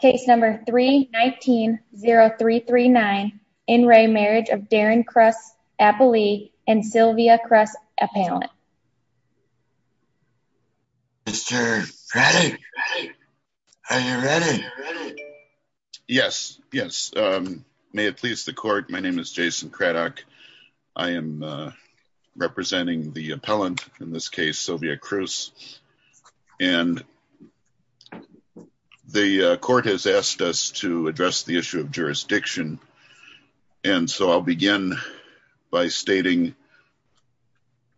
Case number 319-0339. In re Marriage of Darren Kruss Appellee and Sylvia Kruss Appellant. Mr. Craddock, are you ready? Yes, yes. May it please the Court, my name is Jason Craddock. I am representing the appellant, in this case Sylvia Kruss. And the Court has asked us to address the issue of jurisdiction. And so I'll begin by stating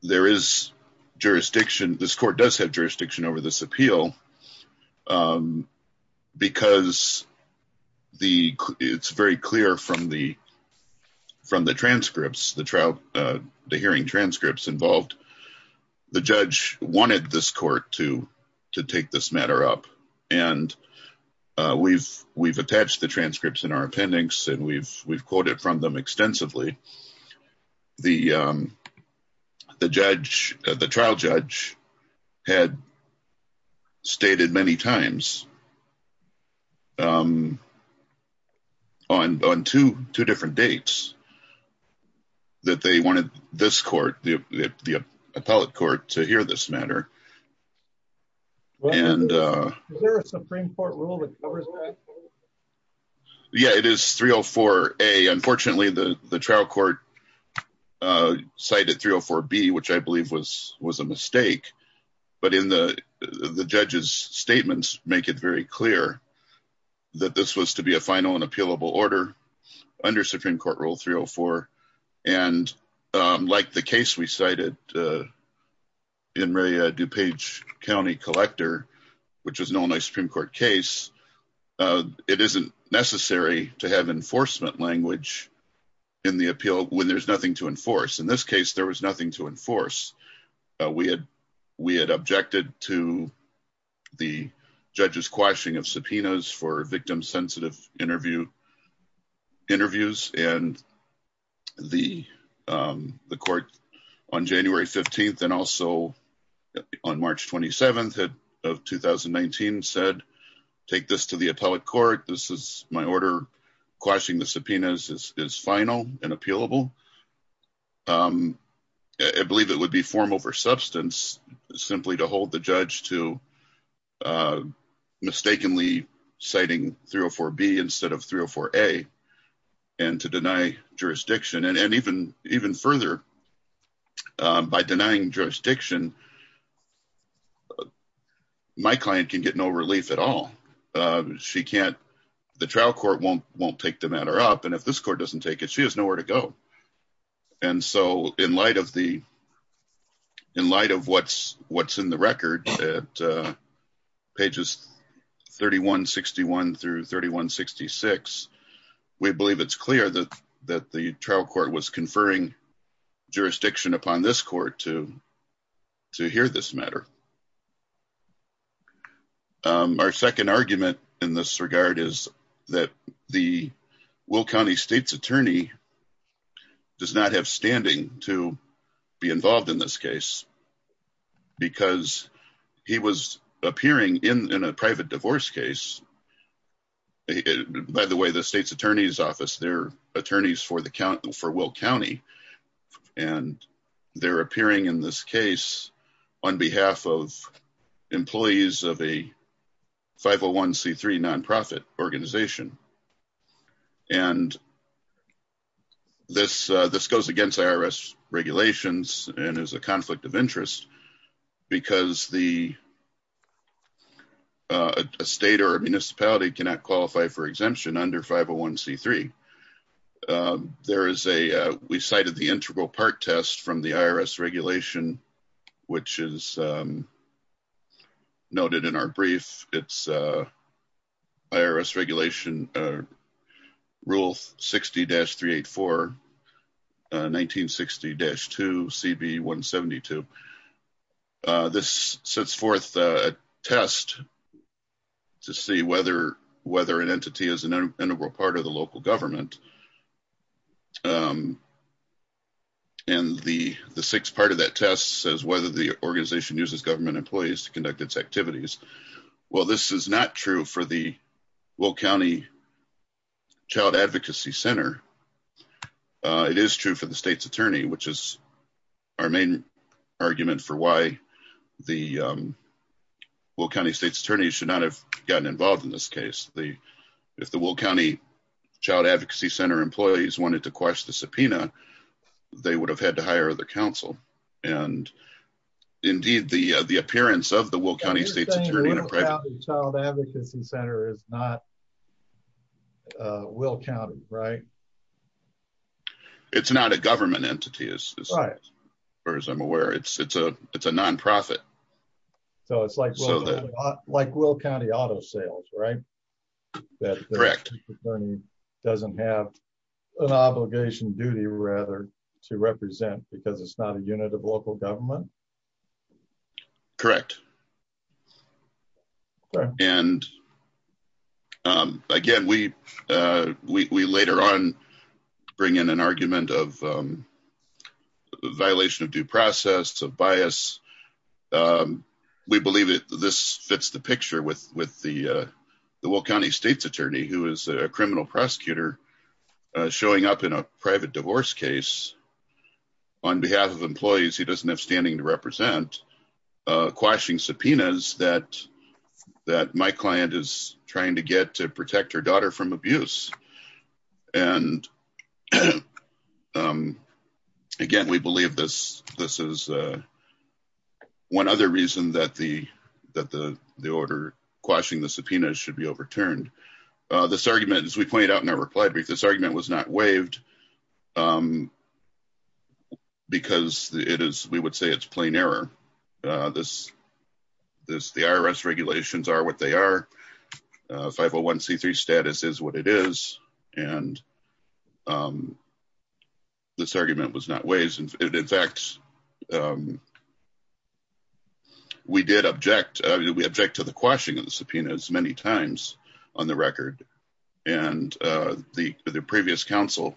there is jurisdiction, this Court does have jurisdiction over this appeal. Because it's very clear from the transcripts, the hearing transcripts involved. And the judge wanted this Court to take this matter up. And we've attached the transcripts in our appendix and we've quoted from them extensively. The trial judge had stated many times on two different dates. That they wanted this Court, the appellate Court to hear this matter. Is there a Supreme Court rule that covers that? Yeah, it is 304A. Unfortunately, the trial court cited 304B, which I believe was a mistake. But the judge's statements make it very clear that this was to be a final and appealable order under Supreme Court rule 304. And like the case we cited in the DuPage County Collector, which was an Illinois Supreme Court case. It isn't necessary to have enforcement language in the appeal when there's nothing to enforce. In this case, there was nothing to enforce. We had objected to the judge's quashing of subpoenas for victim sensitive interviews. And the court on January 15th and also on March 27th of 2019 said, take this to the appellate court. This is my order. Quashing the subpoenas is final and appealable. I believe it would be formal for substance simply to hold the judge to mistakenly citing 304B instead of 304A and to deny jurisdiction. And even further, by denying jurisdiction, my client can get no relief at all. She can't. The trial court won't take the matter up. And if this court doesn't take it, she has nowhere to go. And so in light of what's in the record at pages 3161 through 3166, we believe it's clear that the trial court was conferring jurisdiction upon this court to hear this matter. Our second argument in this regard is that the Will County State's attorney does not have standing to be involved in this case because he was appearing in a private divorce case. By the way, the state's attorney's office, they're attorneys for Will County, and they're appearing in this case on behalf of employees of a 501C3 nonprofit organization. And this goes against IRS regulations and is a conflict of interest because the state or municipality cannot qualify for exemption under 501C3. We cited the integral part test from the IRS regulation, which is noted in our brief. It's IRS regulation Rule 60-384, 1960-2, CB 172. This sets forth a test to see whether an entity is an integral part of the local government. And the sixth part of that test says whether the organization uses government employees to conduct its activities. While this is not true for the Will County Child Advocacy Center, it is true for the state's attorney, which is our main argument for why the Will County State's attorney should not have gotten involved in this case. If the Will County Child Advocacy Center employees wanted to quash the subpoena, they would have had to hire other counsel. Indeed, the appearance of the Will County State's attorney in a private... You're saying the Will County Child Advocacy Center is not Will County, right? It's not a government entity, as far as I'm aware. It's a nonprofit. So it's like Will County Auto Sales, right? Correct. The state's attorney doesn't have an obligation, duty, rather, to represent because it's not a unit of local government? Correct. Again, we later on bring in an argument of violation of due process, of bias. We believe this fits the picture with the Will County State's attorney, who is a criminal prosecutor, showing up in a private divorce case on behalf of employees he doesn't have standing to represent, quashing subpoenas that my client is trying to get to protect her daughter from abuse. And again, we believe this is one other reason that the order quashing the subpoenas should be overturned. This argument, as we pointed out in our reply brief, this argument was not waived because we would say it's plain error. The IRS regulations are what they are. 501c3 status is what it is, and this argument was not waived. In fact, we did object to the quashing of the subpoenas many times on the record. And the previous counsel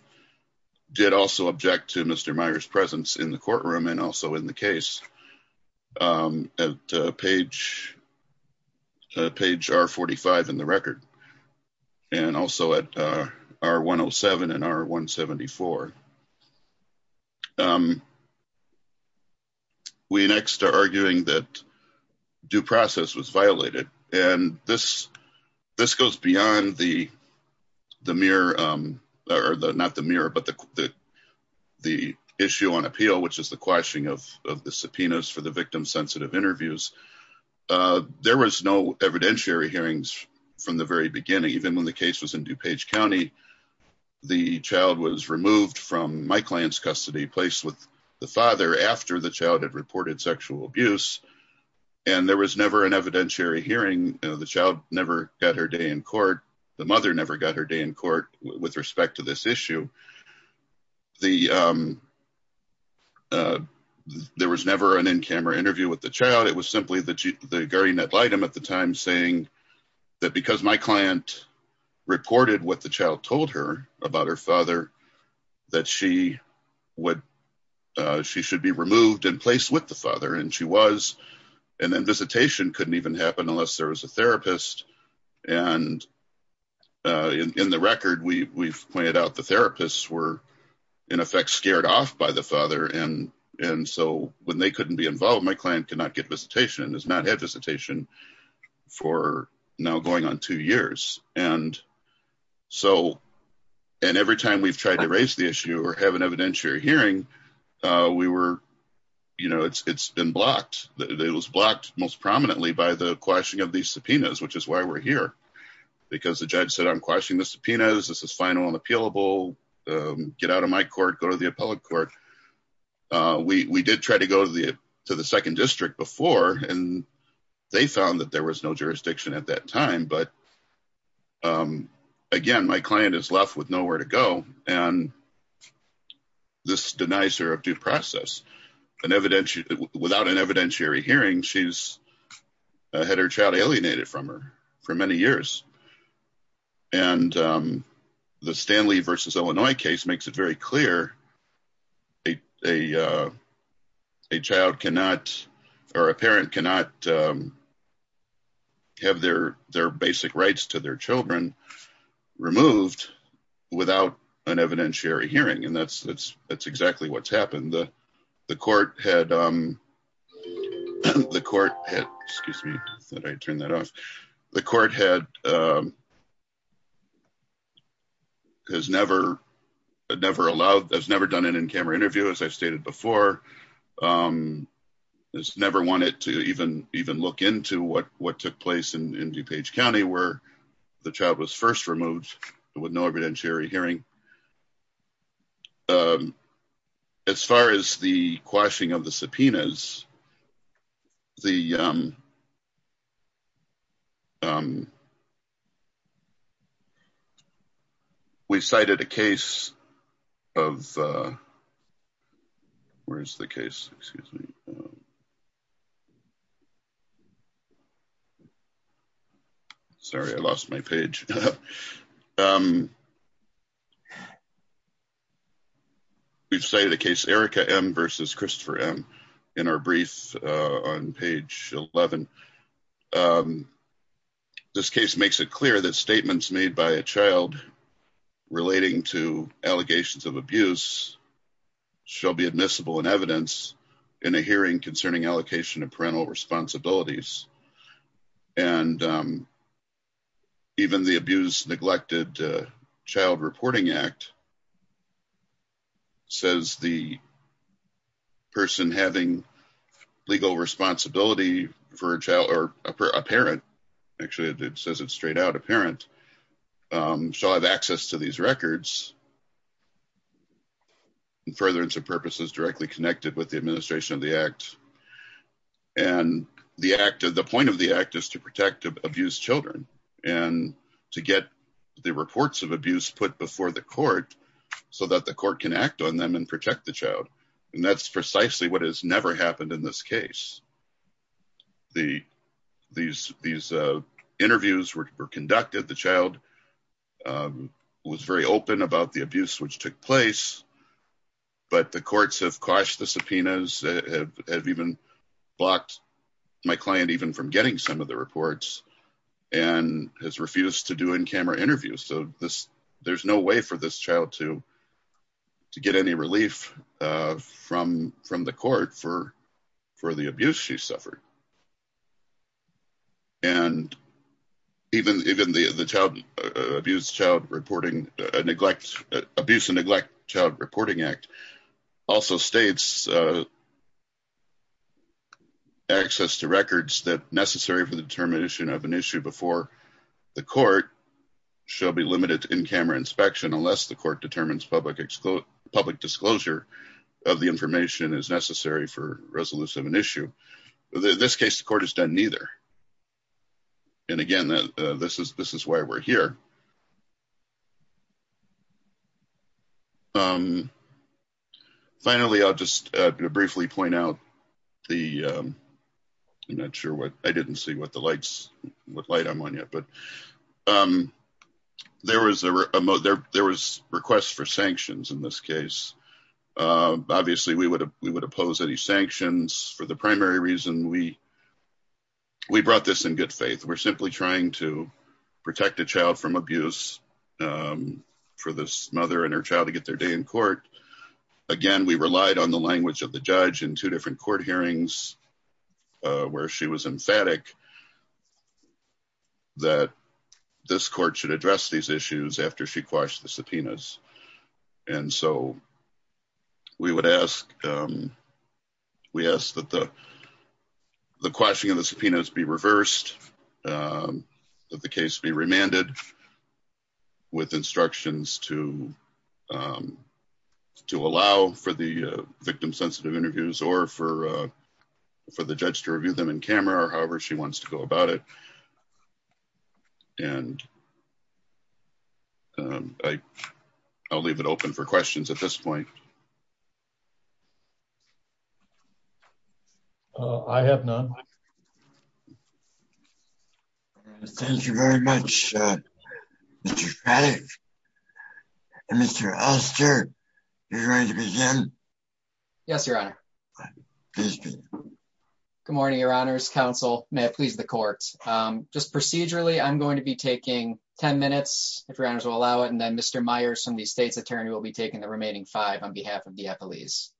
did also object to Mr. Meyer's presence in the courtroom and also in the case at page R45 in the record, and also at R107 and R174. We next are arguing that due process was violated, and this goes beyond the issue on appeal, which is the quashing of the subpoenas for the victim-sensitive interviews. There was no evidentiary hearings from the very beginning. Even when the case was in DuPage County, the child was removed from my client's custody, placed with the father, after the child had reported sexual abuse. And there was never an evidentiary hearing. The child never got her day in court. The mother never got her day in court with respect to this issue. There was never an in-camera interview with the child. It was simply the guardian ad litem at the time saying that because my client reported what the child told her about her father, that she should be removed and placed with the father. And she was. And then visitation couldn't even happen unless there was a therapist. And in the record, we've pointed out the therapists were in effect scared off by the father. And so when they couldn't be involved, my client could not get visitation and has not had visitation for now going on two years. And every time we've tried to raise the issue or have an evidentiary hearing, it's been blocked. It was blocked most prominently by the quashing of these subpoenas, which is why we're here. Because the judge said, I'm quashing the subpoenas. This is final and appealable. Get out of my court. Go to the appellate court. We did try to go to the second district before, and they found that there was no jurisdiction at that time. But again, my client is left with nowhere to go. And this denies her of due process. Without an evidentiary hearing, she's had her child alienated from her for many years. And the Stanley versus Illinois case makes it very clear a child cannot or a parent cannot have their basic rights to their children removed without an evidentiary hearing. And that's exactly what's happened. The court has never done an in-camera interview, as I've stated before, has never wanted to even look into what took place in DuPage County where the child was first removed with no evidentiary hearing. As far as the quashing of the subpoenas. We cited a case of. Where's the case. Sorry, I lost my page. We've cited a case Erica M versus Christopher M in our brief on page 11. This case makes it clear that statements made by a child relating to allegations of abuse shall be admissible in evidence in a hearing concerning allocation of parental responsibilities. And even the abuse neglected Child Reporting Act. Says the person having legal responsibility for a child or a parent. Actually, it says it straight out a parent shall have access to these records. Further into purposes directly connected with the administration of the act. And the act of the point of the act is to protect abuse children and to get the reports of abuse put before the court so that the court can act on them and protect the child. And that's precisely what has never happened in this case. The, these, these interviews were conducted the child. Was very open about the abuse which took place, but the courts have quashed the subpoenas have even blocked my client even from getting some of the reports and has refused to do in camera interviews. So this there's no way for this child to Get any relief from from the court for for the abuse. She suffered. And even even the the child abuse child reporting neglect abuse and neglect child reporting act also states. Access to records that necessary for the determination of an issue before the court shall be limited in camera inspection, unless the court determines public public disclosure of the information is necessary for resolution of an issue. This case, the court has done neither. And again, this is this is why we're here. Finally, I'll just briefly point out the I'm not sure what I didn't see what the lights with light. I'm on yet, but There was a there was requests for sanctions in this case. Obviously, we would we would oppose any sanctions for the primary reason we We brought this in good faith. We're simply trying to protect a child from abuse. For this mother and her child to get their day in court. Again, we relied on the language of the judge in two different court hearings where she was emphatic That this court should address these issues after she quashed the subpoenas and so We would ask We asked that the The question of the subpoenas be reversed. The case be remanded With instructions to To allow for the victim sensitive interviews or for for the judge to review them in camera or however she wants to go about it. And I'll leave it open for questions at this point. I have none. Thank you very much. Mr. Yes, Your Honor. Good morning, Your Honor's counsel. May I please the court just procedurally. I'm going to be taking 10 minutes. If your honors will allow it. And then Mr. Myers from the state's attorney will be taking the remaining five on behalf of the police.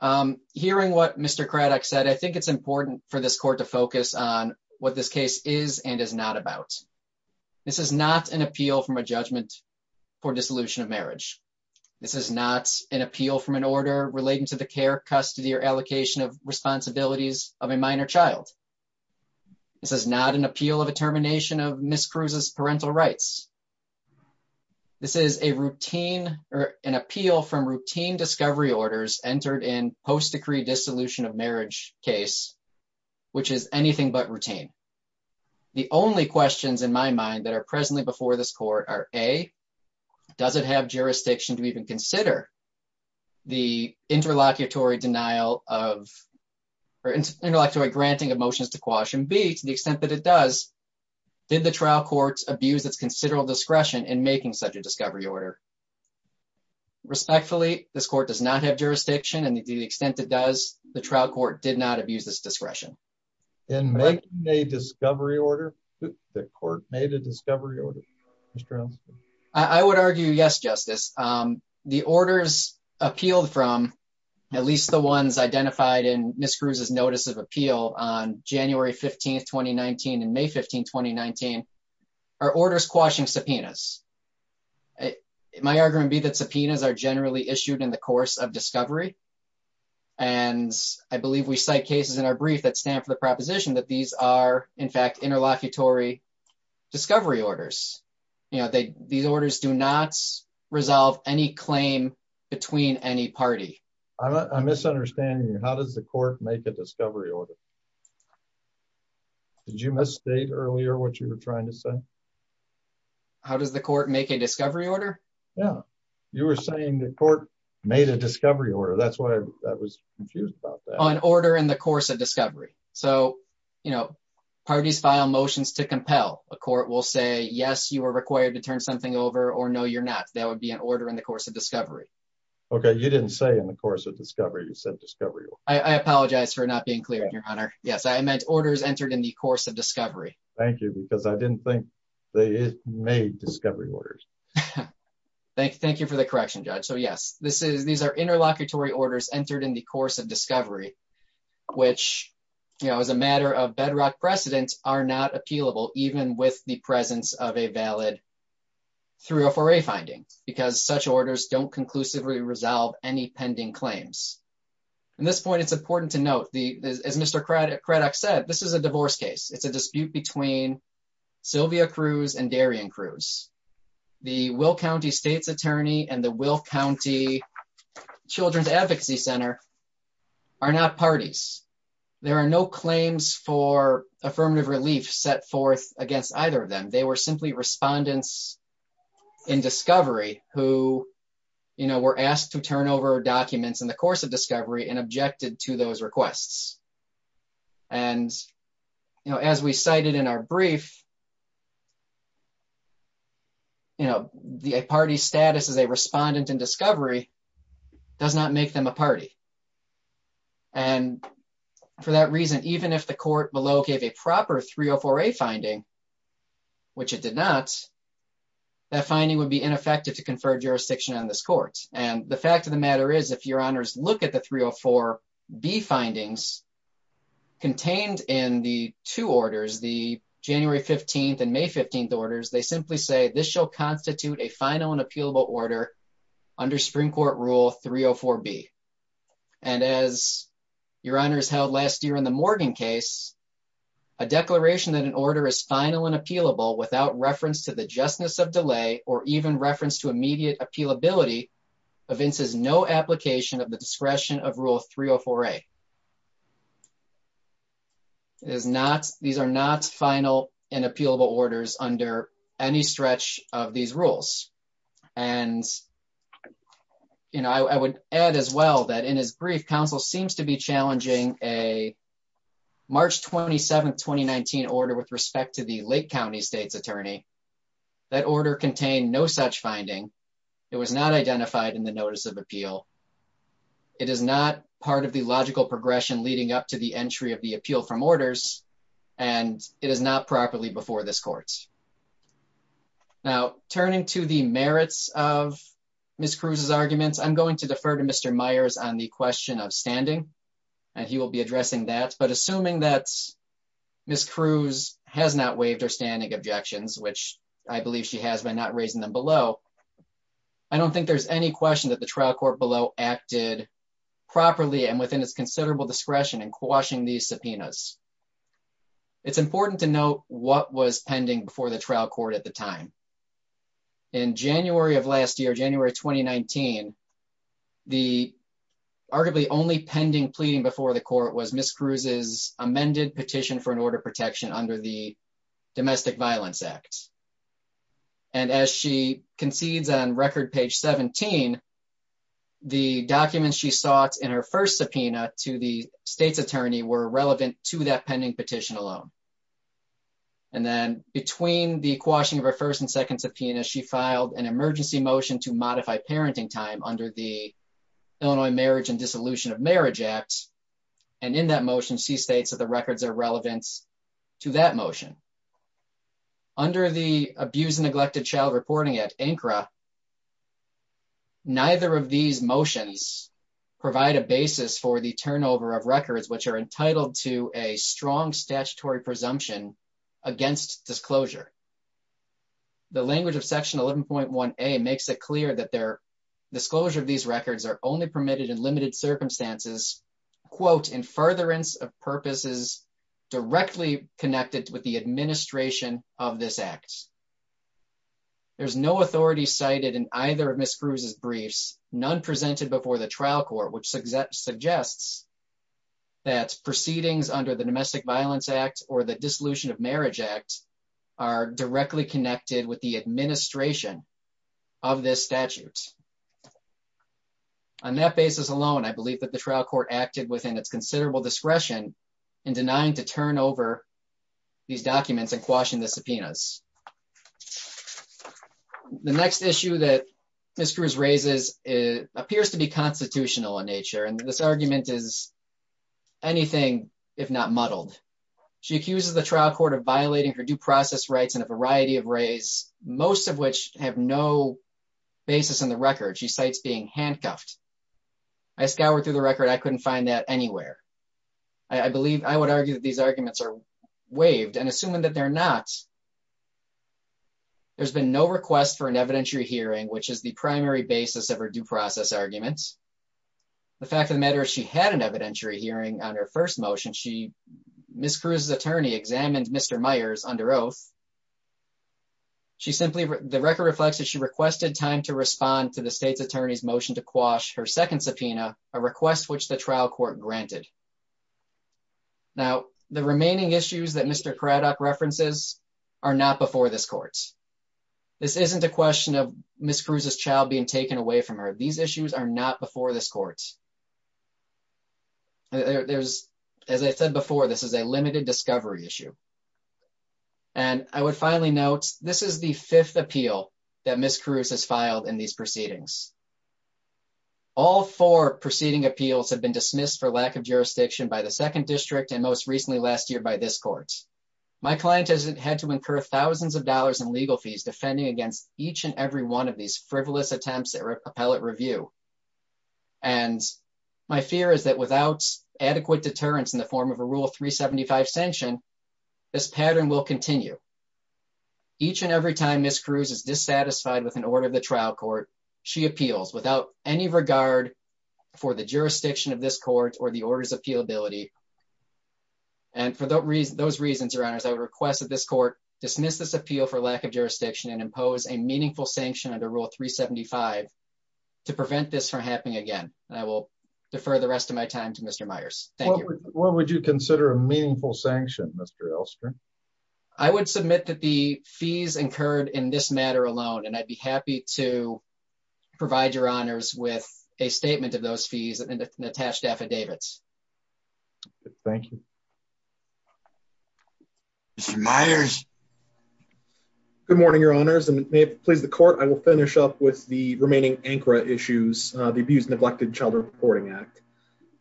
Hearing what Mr. Craddock said. I think it's important for this court to focus on what this case is and is not about This is not an appeal from a judgment for dissolution of marriage. This is not an appeal from an order relating to the care custody or allocation of responsibilities of a minor child. This is not an appeal of a termination of miscruises parental rights. This is a routine or an appeal from routine discovery orders entered in post decree dissolution of marriage case, which is anything but routine. The only questions in my mind that are presently before this court are a doesn't have jurisdiction to even consider the interlocutory denial of Intellectual granting of motions to caution be to the extent that it does. Did the trial courts abuse it's considerable discretion and making such a discovery order. Respectfully, this court does not have jurisdiction and the extent that does the trial court did not abuse this discretion and make a discovery order that court made a discovery order. I would argue yes justice, the orders appealed from at least the ones identified in miscruises notice of appeal on January 15 2019 and may 15 2019 are orders quashing subpoenas. My argument be that subpoenas are generally issued in the course of discovery. And I believe we cite cases in our brief that stand for the proposition that these are in fact interlocutory discovery orders, you know, they these orders do not resolve any claim between any party. I'm misunderstanding. How does the court make a discovery order. Did you misstate earlier what you were trying to say. How does the court make a discovery order. Yeah, you were saying the court made a discovery order. That's why I was confused about that. An order in the course of discovery. So, you know, parties file motions to compel a court will say yes, you are required to turn something over or no, you're not. That would be an order in the course of discovery. Okay. You didn't say in the course of discovery. You said discovery. I apologize for not being clear on your honor. Yes, I meant orders entered in the course of discovery. Thank you because I didn't think they made discovery orders. Thank you. Thank you for the correction judge. So yes, this is these are interlocutory orders entered in the course of discovery, which, you know, as a matter of bedrock precedents are not appealable, even with the presence of a valid through a for a finding, because such orders don't conclusively resolve any pending claims. At this point, it's important to note the as Mr credit credit said this is a divorce case. It's a dispute between Sylvia Cruz and Darien Cruz. The will county state's attorney and the will county Children's Advocacy Center are not parties. There are no claims for affirmative relief set forth against either of them. They were simply respondents. In discovery, who, you know, were asked to turn over documents in the course of discovery and objected to those requests. And, you know, as we cited in our brief. You know, the party status as a respondent and discovery does not make them a party. And for that reason, even if the court below gave a proper three or four a finding, which it did not That finding would be ineffective to confer jurisdiction on this court. And the fact of the matter is, if your honors look at the three or four be findings. Contained in the two orders the January 15 and May 15 orders, they simply say this shall constitute a final and appealable order under Supreme Court rule 304 be And as your honors held last year in the Morgan case, a declaration that an order is final and appealable without reference to the justness of delay or even reference to immediate appeal ability events is no application of the discretion of rule 304 a Is not. These are not final and appealable orders under any stretch of these rules and You know, I would add as well that in his brief counsel seems to be challenging a March 27 2019 order with respect to the Lake County State's attorney that order contain no such finding. It was not identified in the notice of appeal. It is not part of the logical progression leading up to the entry of the appeal from orders and it is not properly before this courts. Now, turning to the merits of Miss Cruz's arguments. I'm going to defer to Mr Myers on the question of standing and he will be addressing that but assuming that Miss Cruz has not waived or standing objections, which I believe she has been not raising them below. I don't think there's any question that the trial court below acted properly and within its considerable discretion and quashing these subpoenas It's important to know what was pending before the trial court at the time. In January of last year, January 2019 the arguably only pending pleading before the court was Miss Cruz's amended petition for an order of protection under the domestic violence act. And as she concedes on record page 17 The documents she sought in her first subpoena to the state's attorney were relevant to that pending petition alone. And then between the quashing of her first and second subpoena she filed an emergency motion to modify parenting time under the Illinois marriage and dissolution of marriage act. And in that motion she states that the records are relevant to that motion. Under the abuse and neglected child reporting at ANCRA Neither of these motions provide a basis for the turnover of records which are entitled to a strong statutory presumption against disclosure. The language of section 11.1 a makes it clear that their disclosure of these records are only permitted in limited circumstances quote in furtherance of purposes directly connected with the administration of this act. There's no authority cited in either of Miss Cruz's briefs none presented before the trial court which suggests suggests That proceedings under the domestic violence act or the dissolution of marriage act are directly connected with the administration of this statute. On that basis alone, I believe that the trial court acted within its considerable discretion and denying to turn over these documents and quashing the subpoenas. The next issue that Miss Cruz raises appears to be constitutional in nature and this argument is anything if not muddled She accuses the trial court of violating her due process rights in a variety of ways, most of which have no basis in the record. She cites being handcuffed. I scoured through the record. I couldn't find that anywhere. I believe I would argue that these arguments are waived and assuming that they're not There's been no request for an evidentiary hearing, which is the primary basis of our due process arguments. The fact of the matter, she had an evidentiary hearing on her first motion she Miss Cruz's attorney examined Mr Myers under oath. She simply the record reflects that she requested time to respond to the state's attorneys motion to quash her second subpoena a request which the trial court granted Now the remaining issues that Mr crowd up references are not before this courts. This isn't a question of Miss Cruz's child being taken away from her. These issues are not before this courts. There's, as I said before, this is a limited discovery issue. And I would finally notes. This is the fifth appeal that Miss Cruz has filed in these proceedings. All four proceeding appeals have been dismissed for lack of jurisdiction by the second district and most recently last year by this courts. My client has had to incur thousands of dollars in legal fees defending against each and every one of these frivolous attempts at repellent review. And my fear is that without adequate deterrence in the form of a rule 375 sanction this pattern will continue. Each and every time Miss Cruz is dissatisfied with an order of the trial court. She appeals without any regard for the jurisdiction of this court or the orders appeal ability. And for those reasons, those reasons around us. I would request that this court dismiss this appeal for lack of jurisdiction and impose a meaningful sanction under rule 375 to prevent this from happening again, I will defer the rest of my time to Mr Myers. What would you consider a meaningful sanction. Mr Elster. I would submit that the fees incurred in this matter alone and I'd be happy to provide your honors with a statement of those fees and attached affidavits. Thank you. Myers. Good morning, your honors and please the court, I will finish up with the remaining anchor issues, the abuse neglected child reporting act.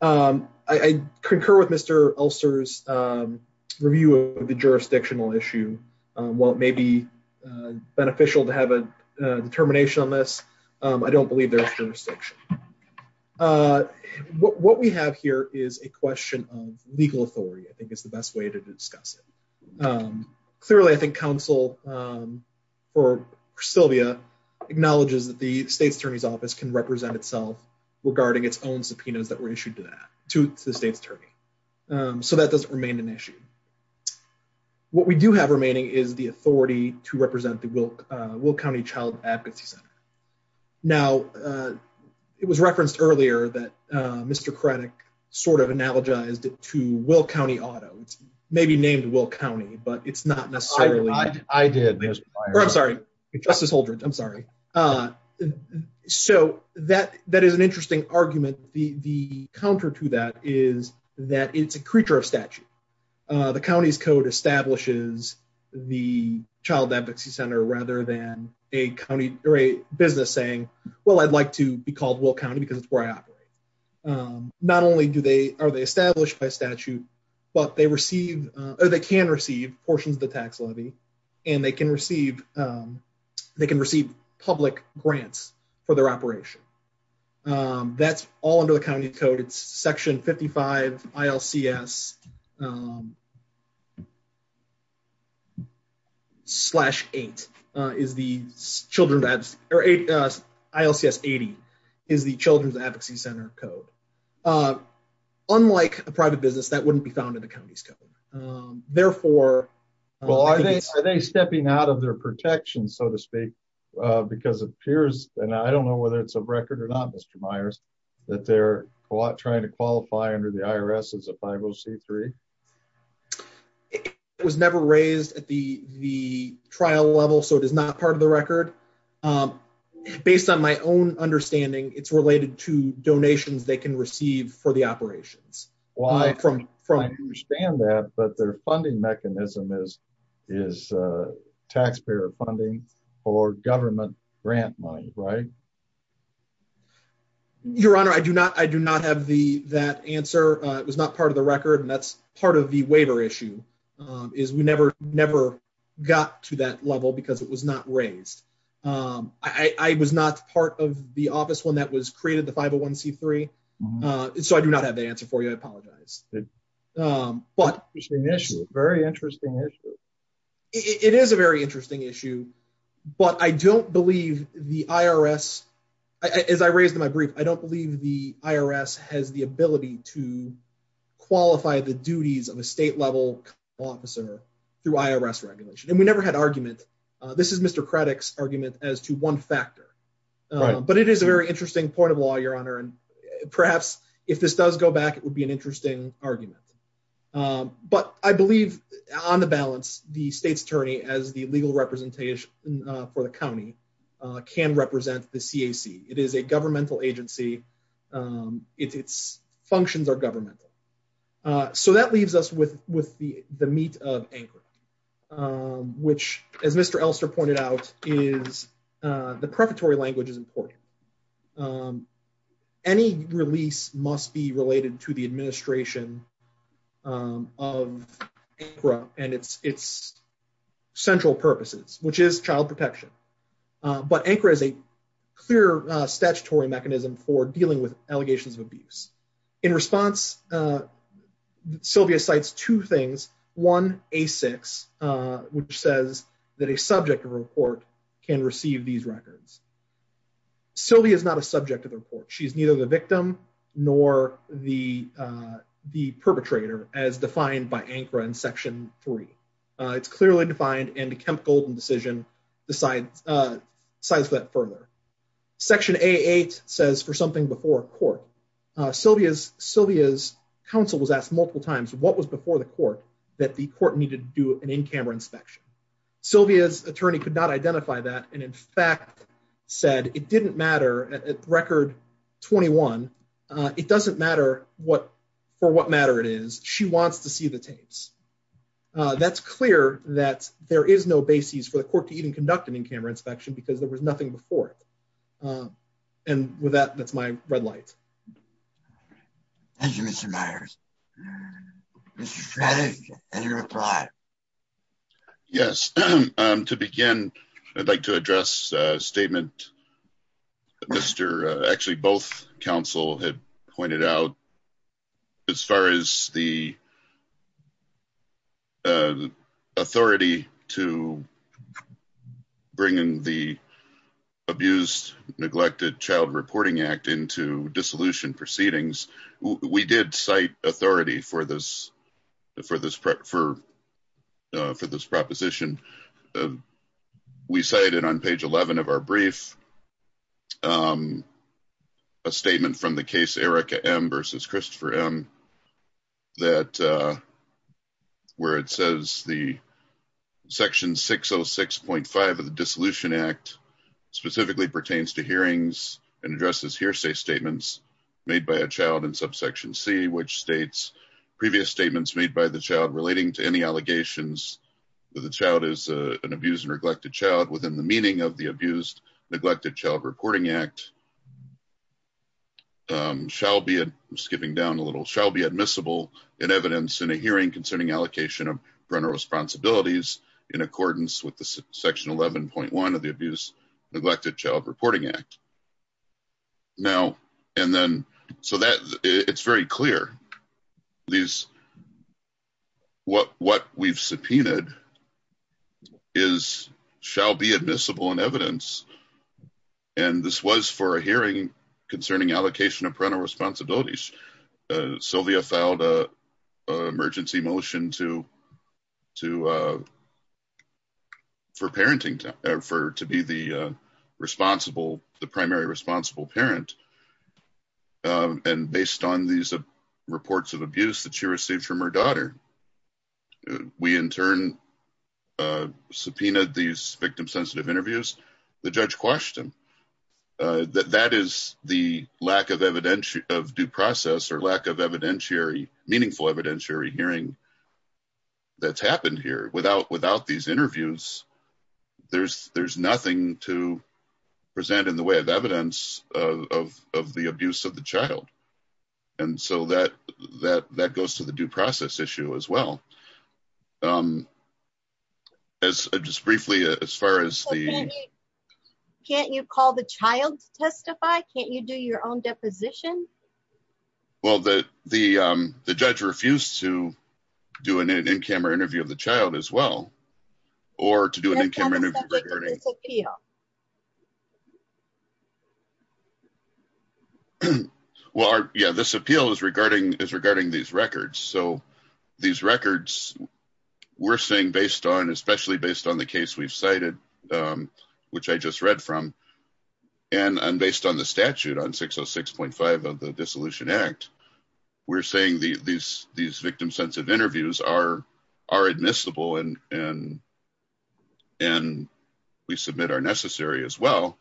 I concur with Mr ulcers review of the jurisdictional issue. Well, maybe beneficial to have a determination on this. I don't believe there's jurisdiction. What we have here is a question of legal authority. I think it's the best way to discuss it. Clearly, I think Council for Sylvia acknowledges that the state's attorney's office can represent itself regarding its own subpoenas that were issued to that to the state's attorney. So that doesn't remain an issue. What we do have remaining is the authority to represent the will will county child advocacy center. Now, it was referenced earlier that Mr credit sort of analogized it to will county auto, maybe named will county but it's not necessarily I did. I'm sorry, Justice Holdren, I'm sorry. So that that is an interesting argument, the counter to that is that it's a creature of statute. The county's code establishes the child advocacy center rather than a county or a business saying, Well, I'd like to be called will county because it's where I operate. Not only do they are they established by statute, but they receive, or they can receive portions of the tax levy, and they can receive. They can receive public grants for their operation. That's all under the county code it's section 55 ILCs. Slash eight is the children that are eight. ILCs 80 is the Children's Advocacy Center code. Unlike a private business that wouldn't be found in the county's code. Therefore, are they stepping out of their protection, so to speak, because it appears, and I don't know whether it's a record or not Mr Myers, that they're trying to qualify under the IRS as a 503 was never raised at the, the trial level so it is not part of the record. Based on my own understanding it's related to donations they can receive for the operations. From from understand that but their funding mechanism is is taxpayer funding or government grant money right. Your Honor, I do not I do not have the that answer. It was not part of the record and that's part of the waiver issue is we never, never got to that level because it was not raised. I was not part of the office one that was created the 501 c three. So I do not have the answer for you. I apologize. But initially, very interesting. It is a very interesting issue, but I don't believe the IRS, as I raised in my brief, I don't believe the IRS has the ability to qualify the duties of a state level officer through IRS regulation and we never had argument. This is Mr critics argument as to one factor, but it is a very interesting point of law, Your Honor, and perhaps if this does go back, it would be an interesting argument. But I believe, on the balance, the state's attorney as the legal representation for the county can represent the CAC, it is a governmental agency. Its functions are governmental. So that leaves us with with the the meat of anchor. Which, as Mr Elster pointed out, is the preparatory language is important. Any release must be related to the administration. Of and it's it's central purposes, which is child protection, but anchor is a clear statutory mechanism for dealing with allegations of abuse in response. Sylvia sites two things one a six, which says that a subject report can receive these records. Sylvia is not a subject of the report. She's neither the victim, nor the the perpetrator as defined by anchor and section three. It's clearly defined and chemical decision, the science size that further section eight says for something before court. Sylvia's Sylvia's counsel was asked multiple times what was before the court that the court needed to do an in camera inspection. Sylvia's attorney could not identify that. And in fact, said it didn't matter at record 21. It doesn't matter what for what matter it is, she wants to see the tapes. That's clear that there is no basis for the court to even conduct an in camera inspection because there was nothing before. And with that, that's my red light. Thank you, Mr Myers. Any reply. Yes, to begin, I'd like to address statement. Mr. Actually, both counsel had pointed out. As far as the We did cite authority for this. For this prep for for this proposition. We cited on page 11 of our brief. A statement from the case Erica M versus Christopher M. That. Where it says the section 606.5 of the dissolution act specifically pertains to hearings and addresses hearsay statements made by a child and subsection see which states previous statements made by the child relating to any allegations. The child is an abused and neglected child within the meaning of the abused neglected child reporting act. Shall be skipping down a little shall be admissible in evidence in a hearing concerning allocation of parental responsibilities in accordance with the section 11.1 of the abuse neglected child reporting act. Now, and then so that it's very clear these What what we've subpoenaed Is shall be admissible and evidence. And this was for a hearing concerning allocation of parental responsibilities Sylvia filed a emergency motion to to For parenting to ever to be the responsible. The primary responsible parent And based on these reports of abuse that she received from her daughter. We in turn Subpoena these victim sensitive interviews, the judge question. That that is the lack of evidential of due process or lack of evidentiary meaningful evidentiary hearing That's happened here without without these interviews, there's, there's nothing to present in the way of evidence of the abuse of the child. And so that that that goes to the due process issue as well. As I just briefly as far as the Can't you call the child testify. Can't you do your own deposition. Well, the, the, the judge refused to do an in camera interview of the child as well, or to do an in camera interview Appeal. Well, yeah, this appeal is regarding is regarding these records. So these records, we're saying, based on especially based on the case we've cited Which I just read from and I'm based on the statute on 606.5 of the Dissolution Act, we're saying the these these victim sensitive interviews are are admissible and and We submit are necessary as well.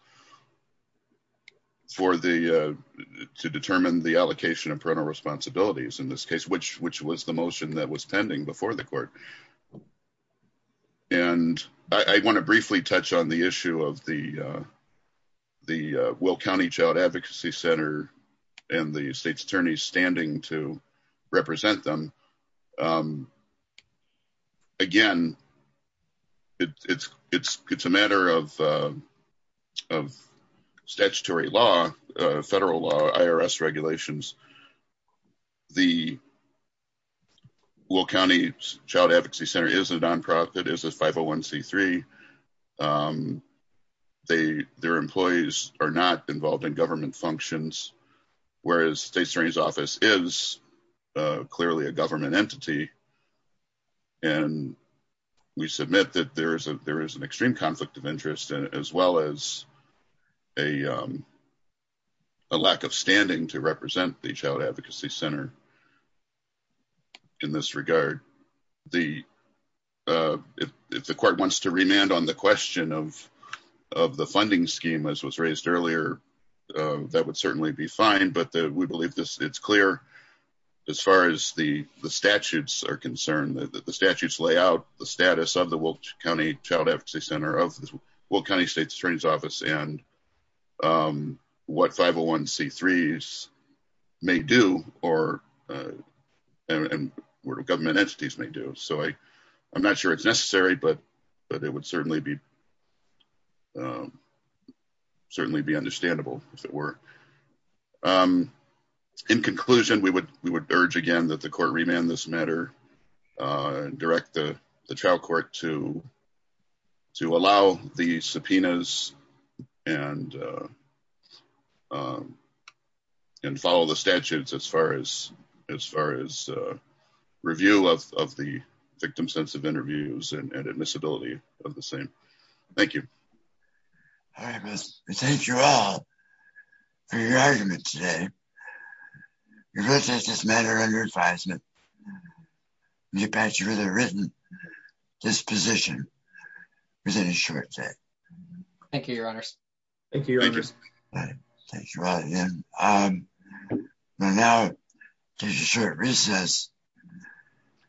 For the to determine the allocation of parental responsibilities in this case, which, which was the motion that was pending before the court. And I want to briefly touch on the issue of the Will County Child Advocacy Center and the state's attorneys standing to represent them. Again, It's, it's, it's a matter of Statutory law federal law IRS regulations. The Will County Child Advocacy Center is a nonprofit is a 501 c three They their employees are not involved in government functions, whereas state's attorney's office is clearly a government entity. And we submit that there is a there is an extreme conflict of interest as well as a A lack of standing to represent the child advocacy center. In this regard, the If the court wants to remand on the question of of the funding scheme, as was raised earlier, that would certainly be fine, but we believe this, it's clear. As far as the the statutes are concerned that the statutes layout the status of the Wilk County Child Advocacy Center of this will kind of state's attorney's office and What 501 c threes may do or What government entities may do so I I'm not sure it's necessary but but it would certainly be Certainly be understandable, if it were In conclusion, we would we would urge again that the court remand this matter. Direct the trial court to To allow the subpoenas and And follow the statutes as far as as far as Review of the victim sense of interviews and admissibility of the same. Thank you. Thank you all For your argument today. This matter under advisement. You patch with a written disposition. Thank you, Your Honor. Thank you, Your Honor. Thank you all again. Now, just a short recess.